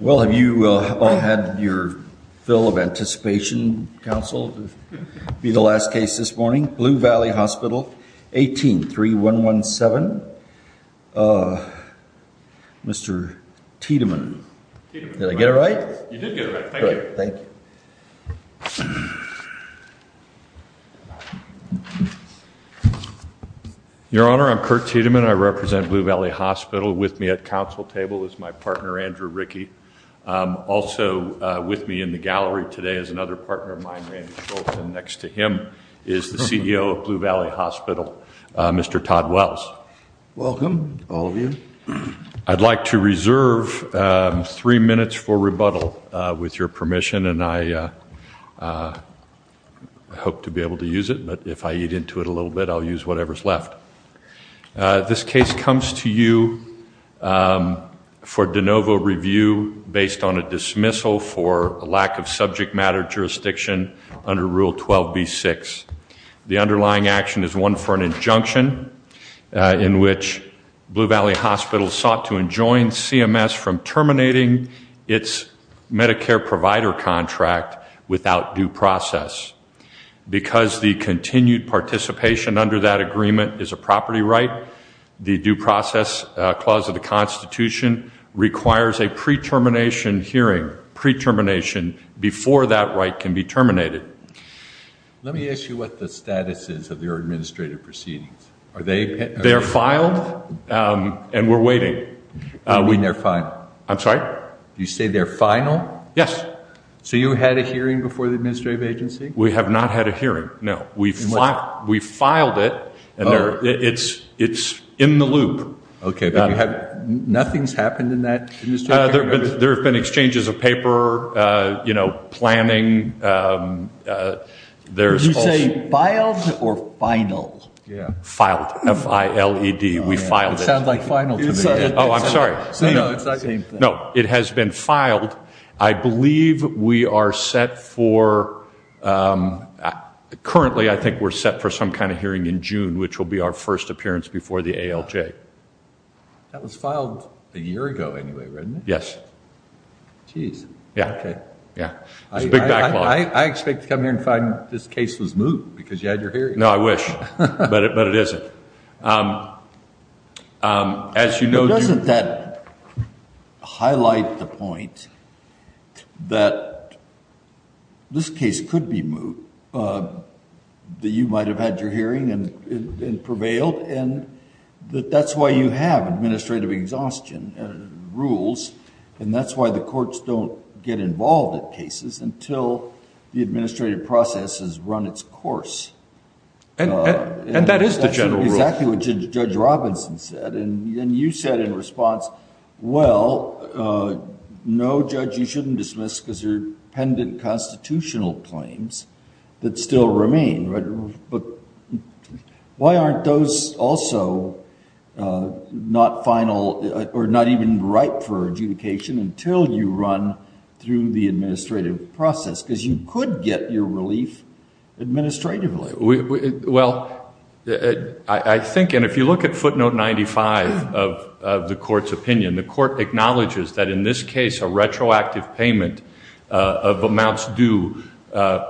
Well have you all had your fill of anticipation counsel be the last case this morning? Blue Valley Hospital 18 3 1 1 7. Mr. Tiedemann. Did I get it right? Your Honor, I'm Kurt Tiedemann. I represent Blue Valley Hospital with me at counsel table is my partner Andrew Rickey. Also with me in the gallery today is another partner of mine next to him is the CEO of Blue Valley Hospital Mr. Todd Wells. Welcome all of you. I'd like to reserve three minutes for rebuttal with your permission and I hope to be able to use it but if I eat into it a little bit I'll use whatever's left. This case comes to you for de novo review based on a dismissal for a lack of subject matter jurisdiction under Rule 12b 6. The underlying action is one for an injunction in which Blue Valley Hospital sought to enjoin CMS from terminating its Medicare provider contract without due process. Because the continued participation under that agreement is a property right the due process clause of the Constitution requires a pre-termination hearing pre-termination before that right can be terminated. Let me ask you what the status is of your administrative proceedings. Are they? They're filed and we're waiting. You mean they're final? I'm so you had a hearing before the administrative agency? We have not had a hearing no we've not we filed it and there it's it's in the loop. Okay nothing's happened in that? There have been exchanges of paper you know planning there's. Did you say filed or final? Filed. F-I-L-E-D. We filed it. It sounds like final to me. Oh I'm sorry. No it has been filed. I believe we are set for currently I think we're set for some kind of hearing in June which will be our first appearance before the ALJ. That was filed a year ago anyway right? Yes. Geez. Yeah. Okay. Yeah. I expect to come here and find this case was moved because you had your hearing. No I wish but it but it isn't. As you know. Doesn't that highlight the point that this case could be moved that you might have had your hearing and prevailed and that that's why you have administrative exhaustion rules and that's why the courts don't get involved at cases until the administrative process has run its course. And that is the general rule. Exactly what Judge Robinson said and then you said in response well no judge you shouldn't dismiss because they're pendant constitutional claims that still remain but why aren't those also not final or not even right for adjudication until you run through the administrative process because you could get your relief administratively. Well I think and if you look at footnote 95 of the court's opinion the court acknowledges that in this case a retroactive payment of amounts due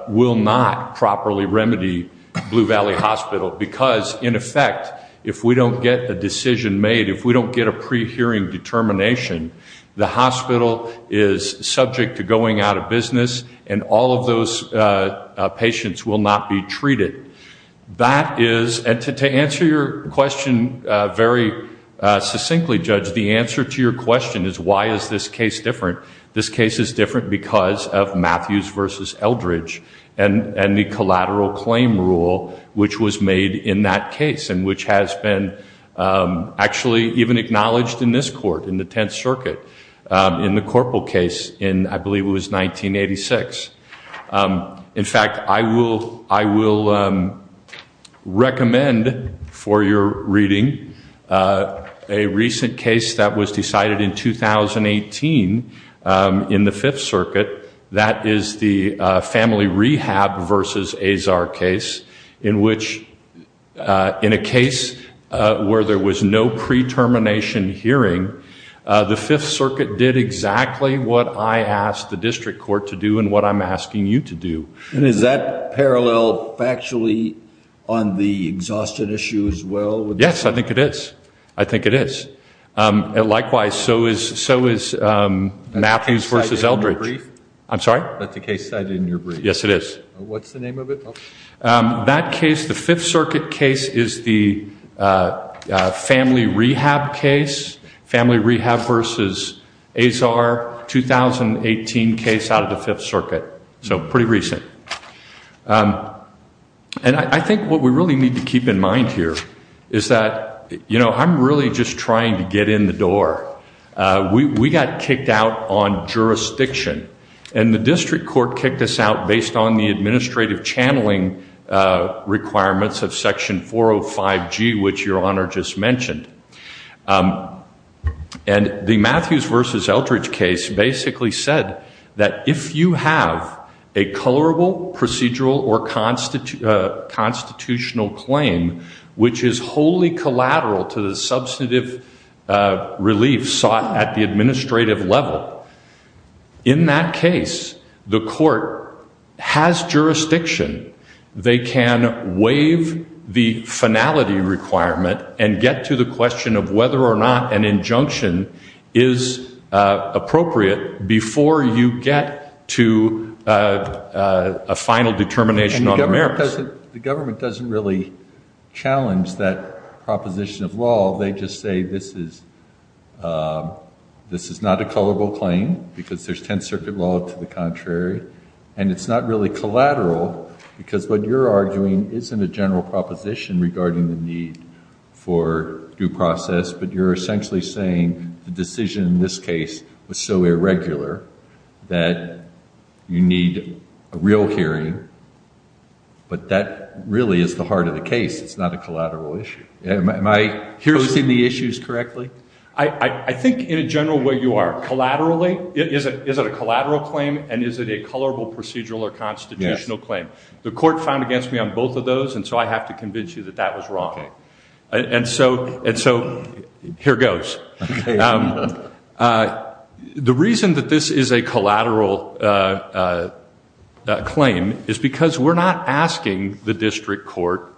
will not properly remedy Blue Valley Hospital because in effect if we don't get the decision made if we don't get a pre-hearing determination the hospital is subject to going out of business and all of those patients will not be treated. That is and to answer your question very succinctly judge the answer to your question is why is this case different. This case is different because of Matthews versus Eldridge and and the collateral claim rule which was made in that case and which has been actually even acknowledged in this court in the Tenth Circuit in the corporal case in I believe it was 1986. In fact I will I will recommend for your reading a recent case that was decided in 2018 in the Fifth Circuit that is the family rehab versus Azar case in which in a pre-termination hearing the Fifth Circuit did exactly what I asked the district court to do and what I'm asking you to do. And is that parallel factually on the exhaustion issue as well? Yes I think it is. I think it is. Likewise so is so is Matthews versus Eldridge. I'm sorry? That's the case cited in your brief. Yes it is. What's the name of it? That case the Fifth Circuit case is the family rehab case family rehab versus Azar 2018 case out of the Fifth Circuit so pretty recent. And I think what we really need to keep in mind here is that you know I'm really just trying to get in the door. We got kicked out on jurisdiction and the district court kicked us out based on the administrative channeling requirements of section 405 G which your honor just mentioned. And the Matthews versus Eldridge case basically said that if you have a colorable procedural or constitutional claim which is wholly collateral to the substantive relief sought at the administrative level in that case the court has jurisdiction they can waive the finality requirement and get to the question of whether or not an injunction is appropriate before you get to a final determination on merits. The government doesn't really challenge that proposition of law they just say this is this is not a colorable claim because there's Tenth Circuit law to the contrary and it's not really collateral because what you're arguing isn't a general proposition regarding the need for due process but you're essentially saying the decision in this case was so irregular that you need a real hearing but that really is the heart of the case it's not a I think in a general way you are collaterally it isn't is it a collateral claim and is it a colorable procedural or constitutional claim the court found against me on both of those and so I have to convince you that that was wrong and so and so here goes the reason that this is a collateral claim is because we're not asking the district court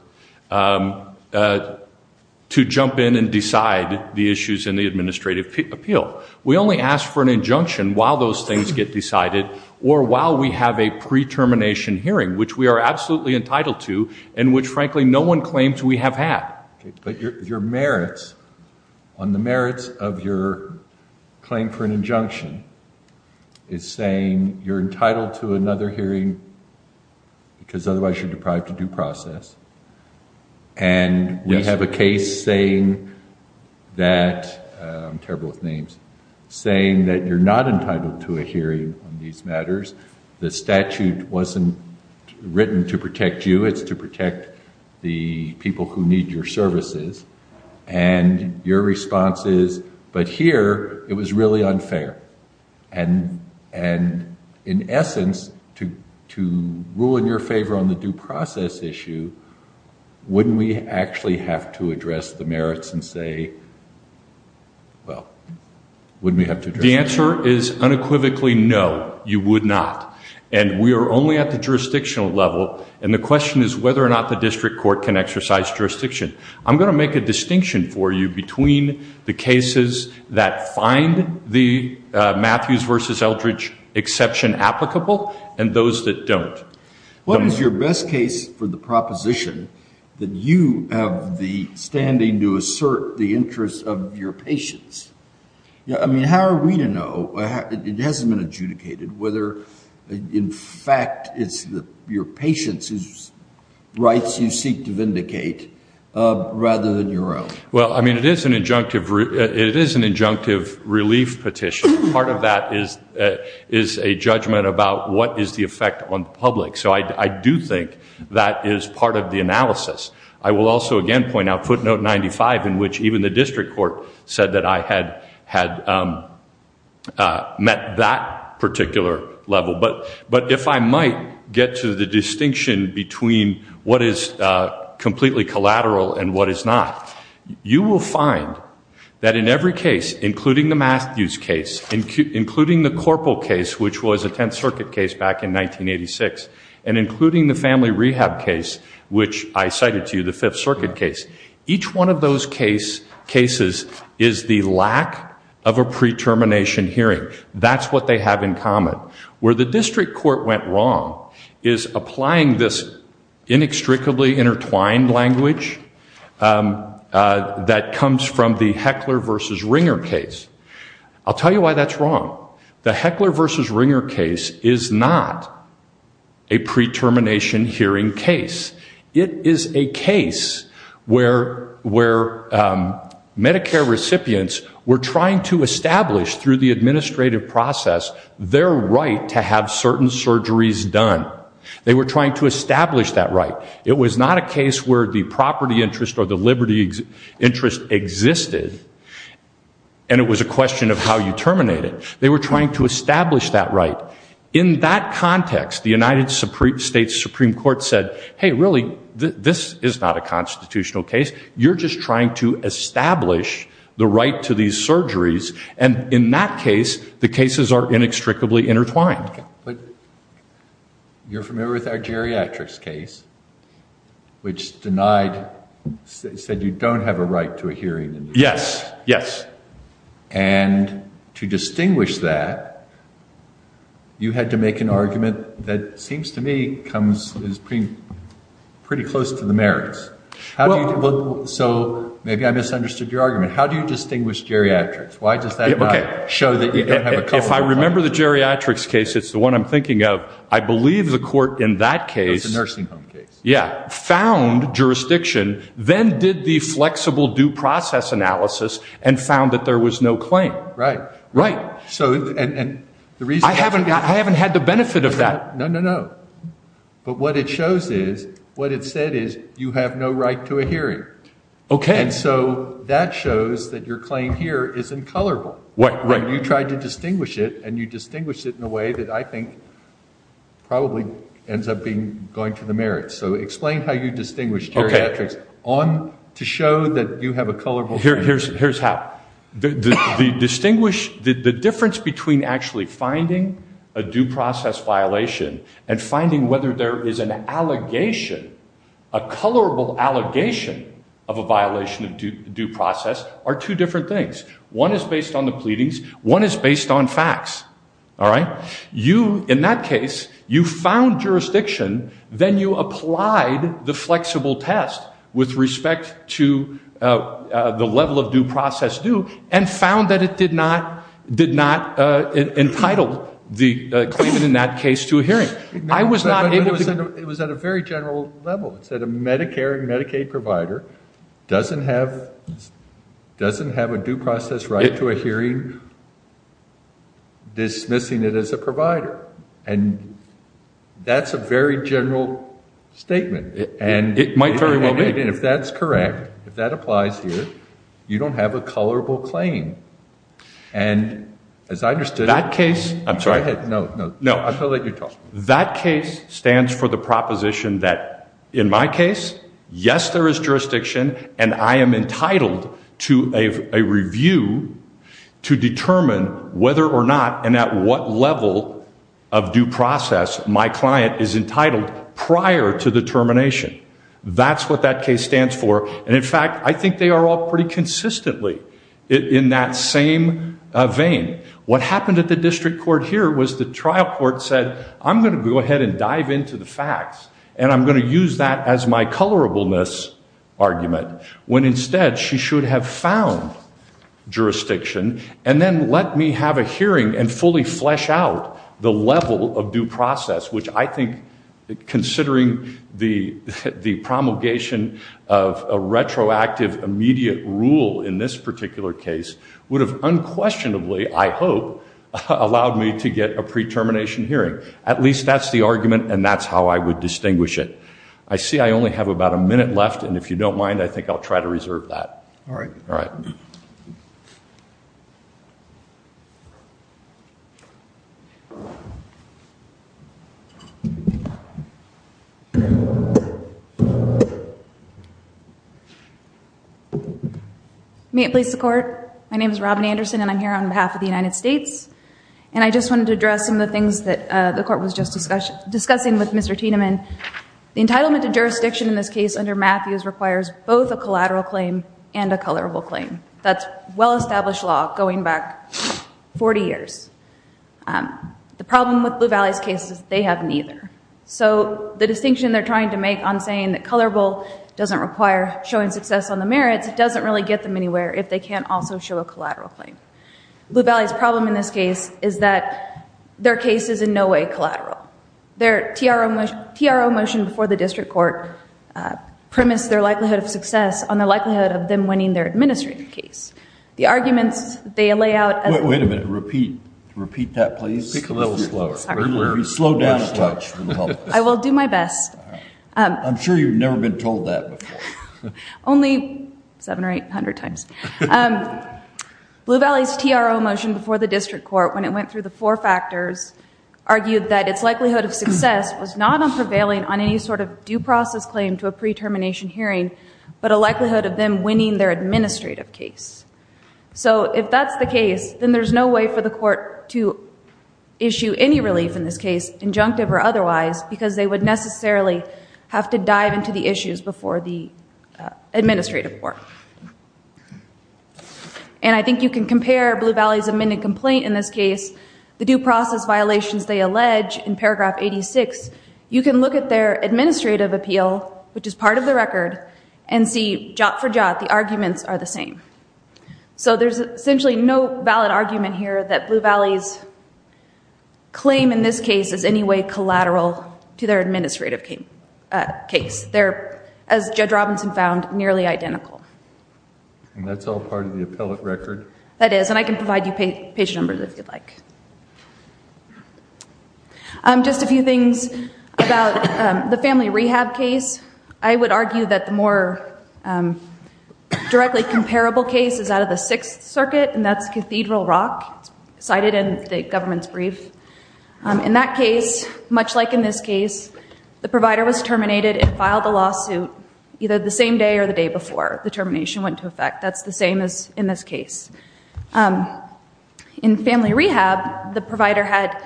to jump in and decide the issues in the administrative appeal we only ask for an injunction while those things get decided or while we have a pre-termination hearing which we are absolutely entitled to and which frankly no one claims we have had. But your merits on the merits of your claim for an injunction is saying you're entitled to another hearing because otherwise you're deprived to due process and we have a case saying that I'm terrible with names saying that you're not entitled to a hearing on these matters the statute wasn't written to protect you it's to protect the people who need your services and your response is but here it was really unfair and in essence to rule in your favor on the due process issue wouldn't we actually have to address the merits and say well wouldn't we have to? The answer is unequivocally no you would not and we are only at the jurisdictional level and the question is whether or not the district court can exercise jurisdiction I'm gonna make a distinction for you between the cases that find the Matthews versus Eldridge exception applicable and those that don't. What is your best case for the proposition that you have the standing to assert the interests of your patients? I mean how are we to know it hasn't been adjudicated whether in fact it's the your patients whose rights you seek to an injunctive relief petition part of that is is a judgment about what is the effect on public so I do think that is part of the analysis I will also again point out footnote 95 in which even the district court said that I had had met that particular level but but if I might get to the distinction between what is that in every case including the Matthews case and including the corporal case which was a 10th Circuit case back in 1986 and including the family rehab case which I cited to you the 5th Circuit case each one of those case cases is the lack of a pre-termination hearing that's what they have in common where the district court went wrong is applying this inextricably intertwined language that comes from the heckler-versus-ringer case I'll tell you why that's wrong the heckler-versus-ringer case is not a pre-termination hearing case it is a case where where Medicare recipients were trying to establish through the administrative process their right to have certain surgeries done they were trying to establish that right it was not a case where the property interest or the Liberty's interest existed and it was a question of how you terminate it they were trying to establish that right in that context the United Supreme States Supreme Court said hey really this is not a constitutional case you're just trying to establish the right to these surgeries and in that case the cases are inextricably intertwined but you're denied said you don't have a right to a hearing yes yes and to distinguish that you had to make an argument that seems to me comes is pretty pretty close to the merits how do you look so maybe I misunderstood your argument how do you distinguish geriatrics why does that okay show that if I remember the geriatrics case it's the one I'm thinking of I believe the court in that nursing home case yeah found jurisdiction then did the flexible due process analysis and found that there was no claim right right so and the reason I haven't got I haven't had the benefit of that no no no but what it shows is what it said is you have no right to a hearing okay so that shows that your claim here is in color what right you tried to distinguish it and so explain how you distinguish okay on to show that you have a colorful here here's here's how the distinguish the difference between actually finding a due process violation and finding whether there is an allegation a colorable allegation of a violation of due process are two different things one is based on the pleadings one is based on facts all right you in that case you found jurisdiction then you applied the flexible test with respect to the level of due process do and found that it did not did not entitle the claimant in that case to a hearing I was not able to it was at a very general level it said a Medicare and Medicaid provider doesn't have doesn't have a due process right to a hearing dismissing it as a provider and that's a very general statement and it might very well be if that's correct if that applies here you don't have a colorable claim and as I understood that case I'm sorry no no no I feel like you talk that case stands for the proposition that in my case yes there is entitled to a review to determine whether or not and at what level of due process my client is entitled prior to the termination that's what that case stands for and in fact I think they are all pretty consistently in that same thing what happened at the district court here was the trial court said I'm going to go ahead and dive into the facts and I'm going to use that as my colorableness argument when instead she should have found jurisdiction and then let me have a hearing and fully flesh out the level of due process which I think considering the the promulgation of a retroactive immediate rule in this particular case would have unquestionably I hope allowed me to get a pre-termination hearing at least that's the argument and that's how I would about a minute left and if you don't mind I think I'll try to reserve that all right all right may it please the court my name is Robin Anderson and I'm here on behalf of the United States and I just wanted to address some of the things that the court was just discussing with Mr. Tiedemann the entitlement to case under Matthews requires both a collateral claim and a colorable claim that's well-established law going back 40 years the problem with Blue Valley's cases they have neither so the distinction they're trying to make on saying that colorable doesn't require showing success on the merits it doesn't really get them anywhere if they can't also show a collateral claim Blue Valley's problem in this case is that their case is in no way collateral their TRO motion before the district court premised their likelihood of success on the likelihood of them winning their administrative case the arguments they lay out wait a minute repeat repeat that please slow down I will do my best I'm sure you've never been told that only seven or eight hundred times Blue Valley's TRO motion before the district court when it went through the four factors argued that it's likelihood of success was not on prevailing on any sort of due process claim to a pre-termination hearing but a likelihood of them winning their administrative case so if that's the case then there's no way for the court to issue any relief in this case injunctive or otherwise because they would necessarily have to dive into the issues before the administrative work and I think you can compare Blue Valley's complaint in this case the due process violations they allege in paragraph 86 you can look at their administrative appeal which is part of the record and see jot for jot the arguments are the same so there's essentially no valid argument here that Blue Valley's claim in this case is any way collateral to their administrative case they're as Judge Robinson found nearly identical that's all part of the appellate record that is and I can provide you patient numbers if you'd like I'm just a few things about the family rehab case I would argue that the more directly comparable case is out of the Sixth Circuit and that's Cathedral Rock cited in the government's brief in that case much like in this case the provider was terminated and filed a lawsuit either the same day or the day before the termination went to effect that's the same as in this case in family rehab the provider had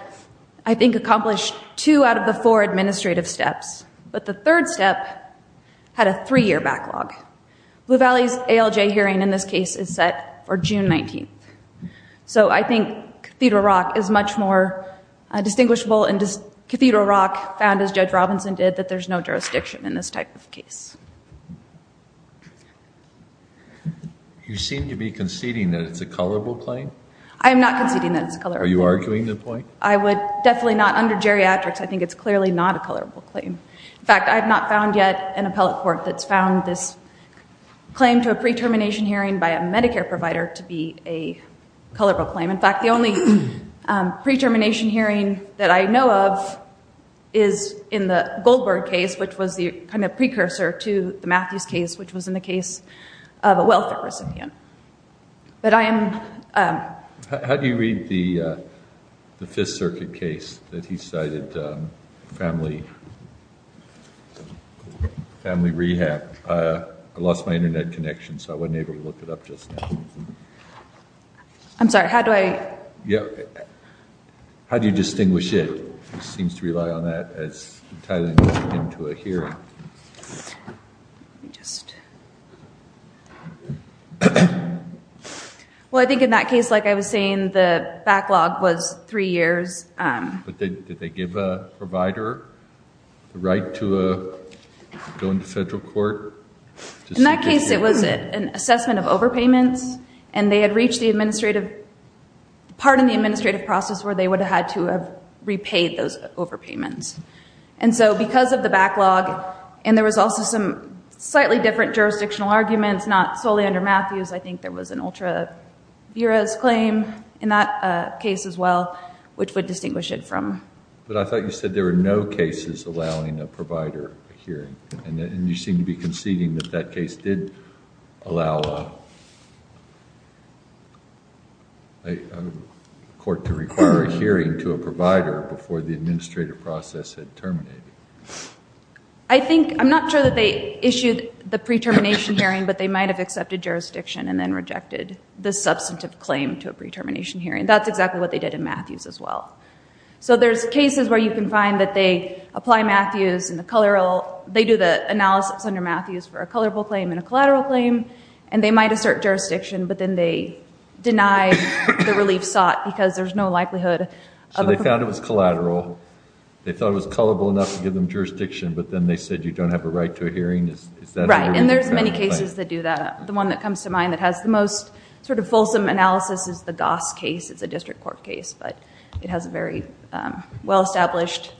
I think accomplished two out of the four administrative steps but the third step had a three-year backlog Blue Valley's ALJ hearing in this case is set for June 19th so I think Cathedral Rock is much more distinguishable and Cathedral Rock found as Judge Robinson did that there's no jurisdiction in this type of case you seem to be conceding that it's a colorable claim I am NOT conceding that it's color are you arguing the point I would definitely not under geriatrics I think it's clearly not a colorable claim in fact I've not found yet an appellate court that's found this claim to a pre-termination hearing by a Medicare provider to be a colorable claim in fact the only pre-termination hearing that I know of is in the Goldberg case which was the kind of precursor to the but I am how do you read the the Fifth Circuit case that he cited family family rehab I lost my internet connection so I wasn't able to look it up just I'm sorry how do I yeah how do you distinguish it seems to rely on that into a hearing just well I think in that case like I was saying the backlog was three years did they give a provider right to a go into federal court in that case it was it an assessment of overpayments and they had reached the administrative part in the administrative process where they would had to have repaid those overpayments and so because of the backlog and there was also some slightly different jurisdictional arguments not solely under Matthews I think there was an ultra bureaus claim in that case as well which would distinguish it from but I thought you said there were no cases allowing a provider hearing and then you seem to be conceding that that case did allow a court to require a hearing to a provider before the administrative process had terminated I think I'm not sure that they issued the pre-termination hearing but they might have accepted jurisdiction and then rejected the substantive claim to a pre-termination hearing that's exactly what they did in Matthews as well so there's cases where you can find that they apply Matthews and the color all they do the analysis under Matthews for a colorable claim in collateral claim and they might assert jurisdiction but then they deny the relief sought because there's no likelihood so they found it was collateral they thought it was colorable enough to give them jurisdiction but then they said you don't have a right to a hearing is that right and there's many cases that do that the one that comes to mind that has the most sort of fulsome analysis is the Goss case it's a district court case but it has a very well established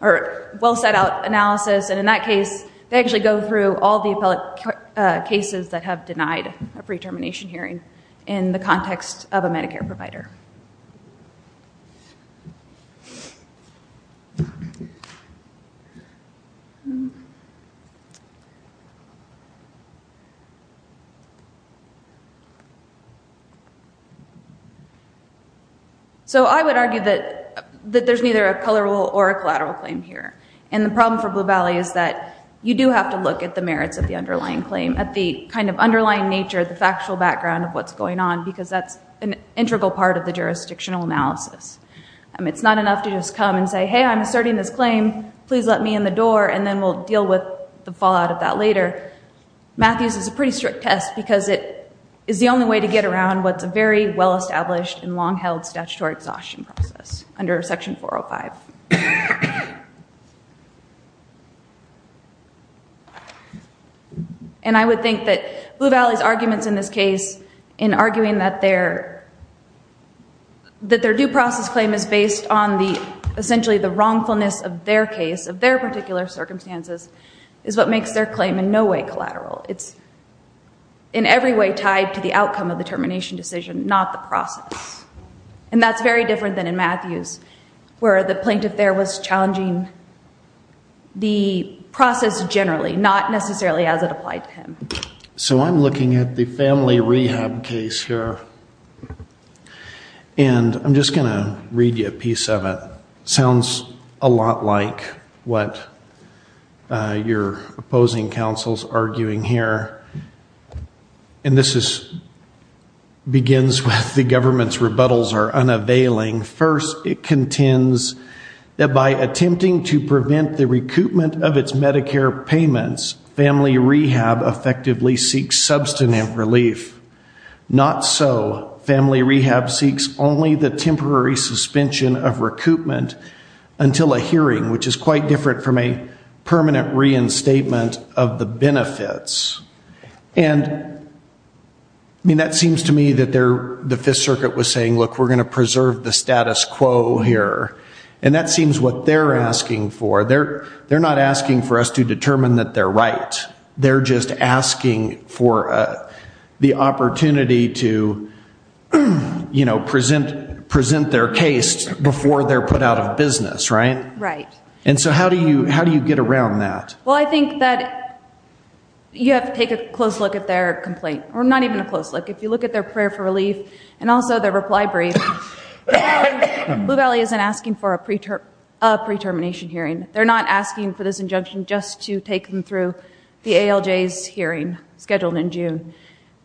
or well set out analysis and in that case they actually go through all the appellate cases that have denied a pre-termination hearing in the context of a Medicare provider so I would argue that that there's neither a colorable or a collateral claim here and the problem for Blue Valley is that you do have to look at the merits of the underlying claim at the kind of underlying nature the factual background of what's going on because that's an integral part of the jurisdictional analysis and it's not enough to just come and say hey I'm asserting this claim please let me in the door and then we'll deal with the fallout of that later Matthews is a pretty strict test because it is the only way to get around what's a very well established and long-held statutory exhaustion process under section 405 and I would think that Blue Valley's arguments in this case in arguing that their that their due process claim is based on the essentially the wrongfulness of their case of their particular circumstances is what makes their claim in no way collateral it's in every way tied to the outcome of the termination decision not the process and that's very different than in Matthews where the plaintiff there was challenging the process generally not necessarily as it applied to him so I'm looking at the family rehab case here and I'm just gonna read you a piece of it sounds a lot like what you're opposing counsel's arguing here and this is begins with the government's rebuttals are unavailing first it contends that by attempting to prevent the recoupment of its Medicare payments family rehab effectively seeks substantive relief not so family rehab seeks only the temporary suspension of recoupment until a hearing which is quite different from a permanent reinstatement of the benefits and that seems to me that they're the Fifth Circuit was saying look we're gonna preserve the status quo here and that seems what they're asking for their they're not asking for us to determine that they're right they're just asking for the opportunity to you know present present their case before they're put right and so how do you how do you get around that well I think that you have to take a close look at their complaint we're not even a close look if you look at their prayer for relief and also their reply brief Blue Valley isn't asking for a preacher a pre-termination hearing they're not asking for this injunction just to take them through the ALJ's hearing scheduled in June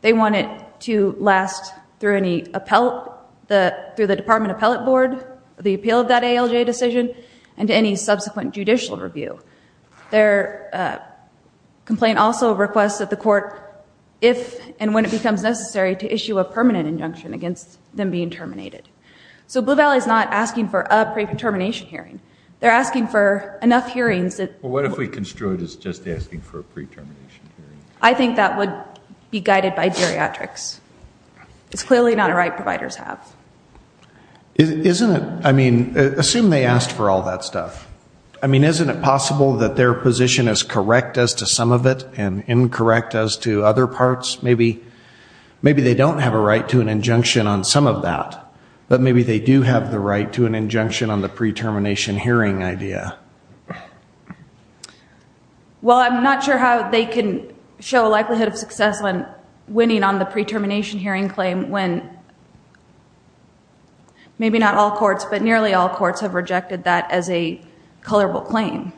they want it to last through any appellate the through the Department Appellate Board the appeal of that ALJ decision and any subsequent judicial review their complaint also requests that the court if and when it becomes necessary to issue a permanent injunction against them being terminated so Blue Valley is not asking for a pre-determination hearing they're asking for enough hearings that what if we construed is just asking for a pre-termination I think that would be guided by geriatrics it's clearly not a right providers have isn't it I mean assume they asked for all that stuff I mean isn't it possible that their position is correct as to some of it and incorrect as to other parts maybe maybe they don't have a right to an injunction on some of that but maybe they do have the right to an injunction on the pre-termination hearing idea well I'm not sure how they can show a likelihood of success when winning on the pre-termination hearing claim when maybe not all courts but nearly all courts have rejected that as a color will claim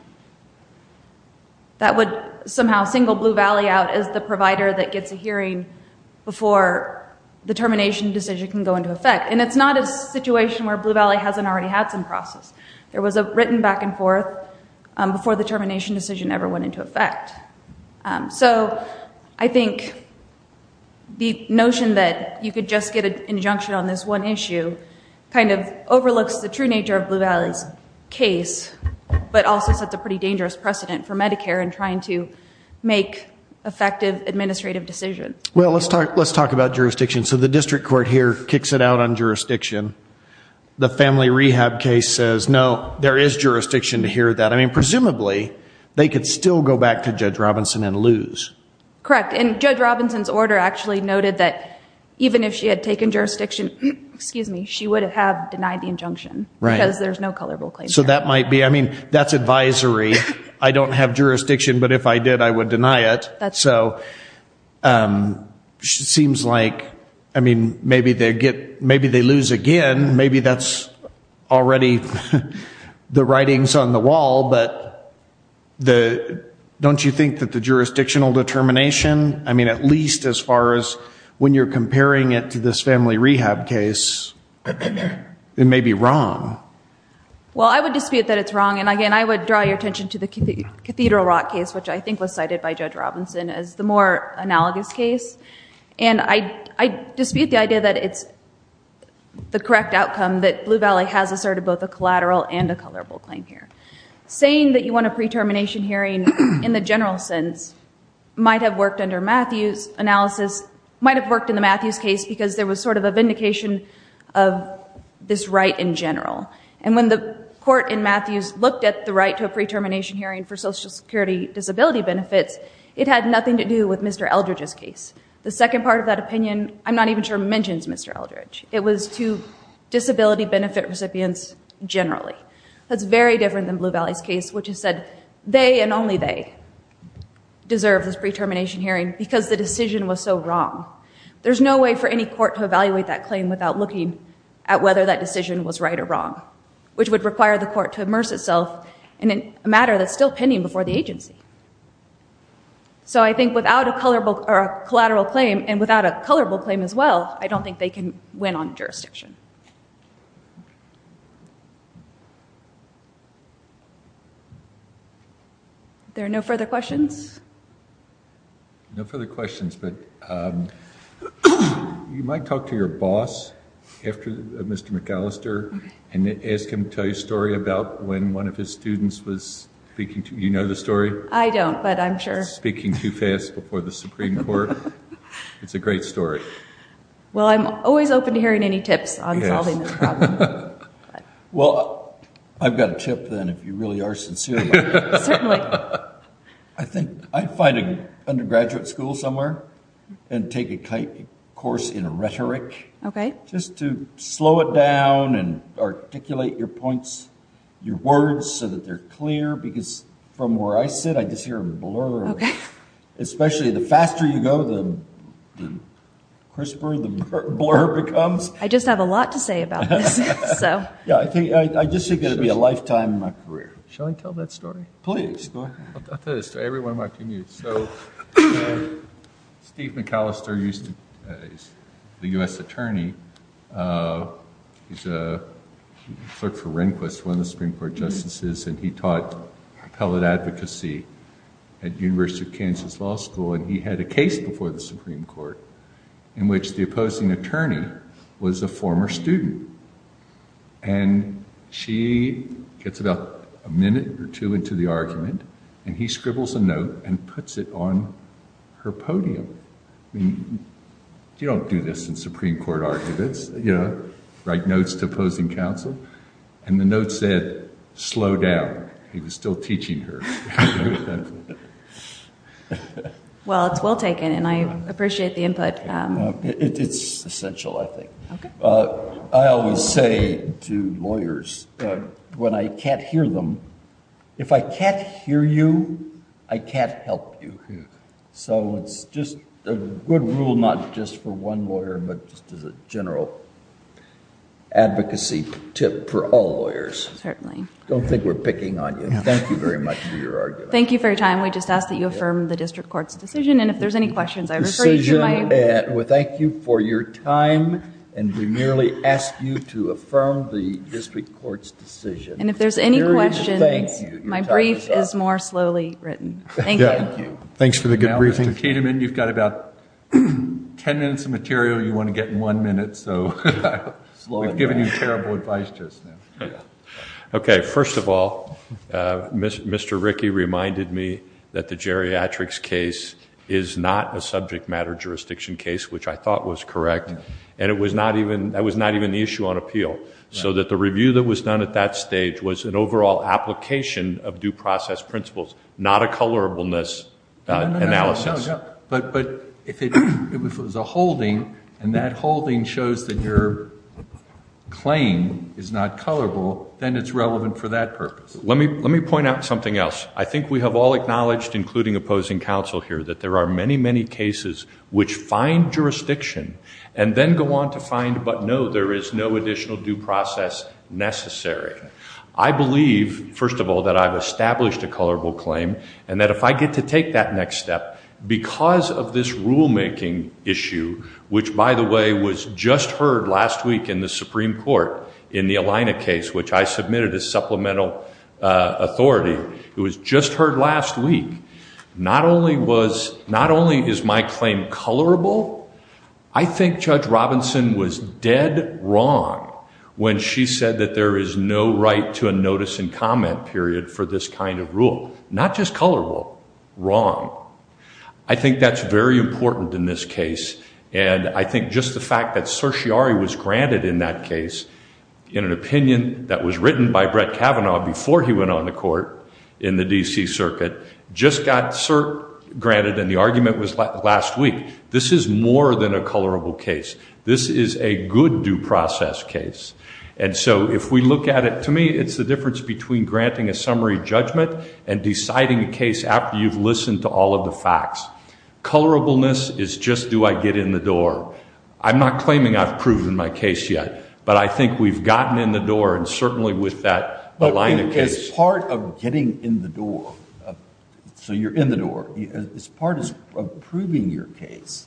that would somehow single Blue Valley out as the provider that gets a hearing before the termination decision can go into effect and it's not a situation where Blue Valley hasn't already had some process there was a written back and forth before the the notion that you could just get an injunction on this one issue kind of overlooks the true nature of Blue Valley's case but also sets a pretty dangerous precedent for Medicare and trying to make effective administrative decisions well let's talk let's talk about jurisdiction so the district court here kicks it out on jurisdiction the family rehab case says no there is jurisdiction to hear that I mean presumably they could still go back to Robinson's order actually noted that even if she had taken jurisdiction excuse me she would have denied the injunction right as there's no color will claim so that might be I mean that's advisory I don't have jurisdiction but if I did I would deny it so she seems like I mean maybe they get maybe they lose again maybe that's already the writings on the wall but the don't you think that the jurisdictional determination I mean at least as far as when you're comparing it to this family rehab case it may be wrong well I would dispute that it's wrong and again I would draw your attention to the Cathedral Rock case which I think was cited by Judge Robinson as the more analogous case and I dispute the idea that it's the correct outcome that Blue Valley has asserted both a collateral and a colorable claim here saying that you want a pre-termination hearing in the general sense might have worked under Matthews analysis might have worked in the Matthews case because there was sort of a vindication of this right in general and when the court in Matthews looked at the right to a pre-termination hearing for Social Security disability benefits it had nothing to do with mr. Eldridge's case the second part of that opinion I'm not even sure mentions mr. Eldridge it was to disability benefit recipients generally that's very different than they and only they deserve this pre-termination hearing because the decision was so wrong there's no way for any court to evaluate that claim without looking at whether that decision was right or wrong which would require the court to immerse itself in a matter that's still pending before the agency so I think without a color book or a collateral claim and without a colorable claim as well I don't think they can win on jurisdiction there are no further questions no further questions but you might talk to your boss after mr. McAllister and ask him to tell you a story about when one of his students was speaking to you know the story I don't but I'm sure speaking too fast before the Supreme Court it's a great story well I'm always open to hearing any tips on solving this problem well I've got a tip then if you really are sincere I think I'd find an undergraduate school somewhere and take a kite course in a rhetoric okay just to slow it down and articulate your points your words so that they're clear because from where I sit I just hear a blur especially the faster you go the crisper the blur becomes I just have a lifetime in my career shall I tell that story please so Steve McAllister used to the US Attorney he's a clerk for Rehnquist one of the Supreme Court justices and he taught appellate advocacy at University of Kansas Law School and he had a case before the Supreme Court in which the opposing attorney was a former student and she gets about a minute or two into the argument and he scribbles a note and puts it on her podium I mean you don't do this in Supreme Court arguments yeah write notes to opposing counsel and the note said slow down he was still teaching her well it's well taken and I I always say to lawyers when I can't hear them if I can't hear you I can't help you so it's just a good rule not just for one lawyer but just as a general advocacy tip for all lawyers certainly don't think we're picking on you thank you very much for your argument thank you for your time we just asked that you affirm the district courts decision and if there's any thank you for your time and we merely ask you to affirm the district courts decision and if there's any questions my brief is more slowly written thanks for the good briefing you've got about 10 minutes of material you want to get in one minute so okay first of all mr. Ricky reminded me that the geriatrics is not a subject matter jurisdiction case which I thought was correct and it was not even that was not even the issue on appeal so that the review that was done at that stage was an overall application of due process principles not a colorableness analysis but but if it was a holding and that holding shows that your claim is not colorable then it's relevant for that purpose let me let me point out something else I think we have all acknowledged including opposing counsel here that there are many many cases which find jurisdiction and then go on to find but no there is no additional due process necessary I believe first of all that I've established a colorable claim and that if I get to take that next step because of this rulemaking issue which by the way was just heard last week in the Supreme Court in the Alina case which I not only was not only is my claim colorable I think judge Robinson was dead wrong when she said that there is no right to a notice and comment period for this kind of rule not just colorable wrong I think that's very important in this case and I think just the fact that certiorari was granted in that case in an opinion that was written by Brett Kavanaugh before he went on the court in the DC Circuit just got cert granted and the argument was last week this is more than a colorable case this is a good due process case and so if we look at it to me it's the difference between granting a summary judgment and deciding a case after you've listened to all of the facts colorableness is just do I get in the door I'm not claiming I've proven my case yet but I think we've gotten in the door and certainly with that Alina case part of getting in the door so you're in the door it's part is approving your case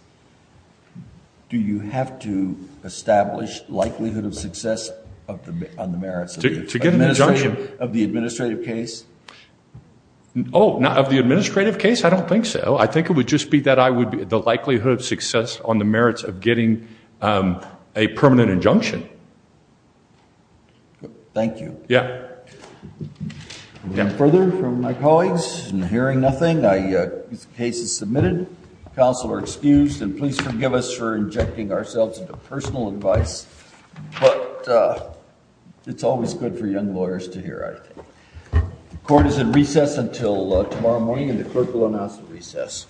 do you have to establish likelihood of success of the merits to get an injunction of the administrative case oh not of the administrative case I don't think so I think it would just be that I would be the likelihood of success on the merits of getting a permanent injunction thank you yeah yeah further from my colleagues and hearing nothing I cases submitted counsel are excused and please forgive us for injecting ourselves into personal advice but it's always good for young lawyers to hear I think the court is in recess until tomorrow morning and the clerk will announce the recess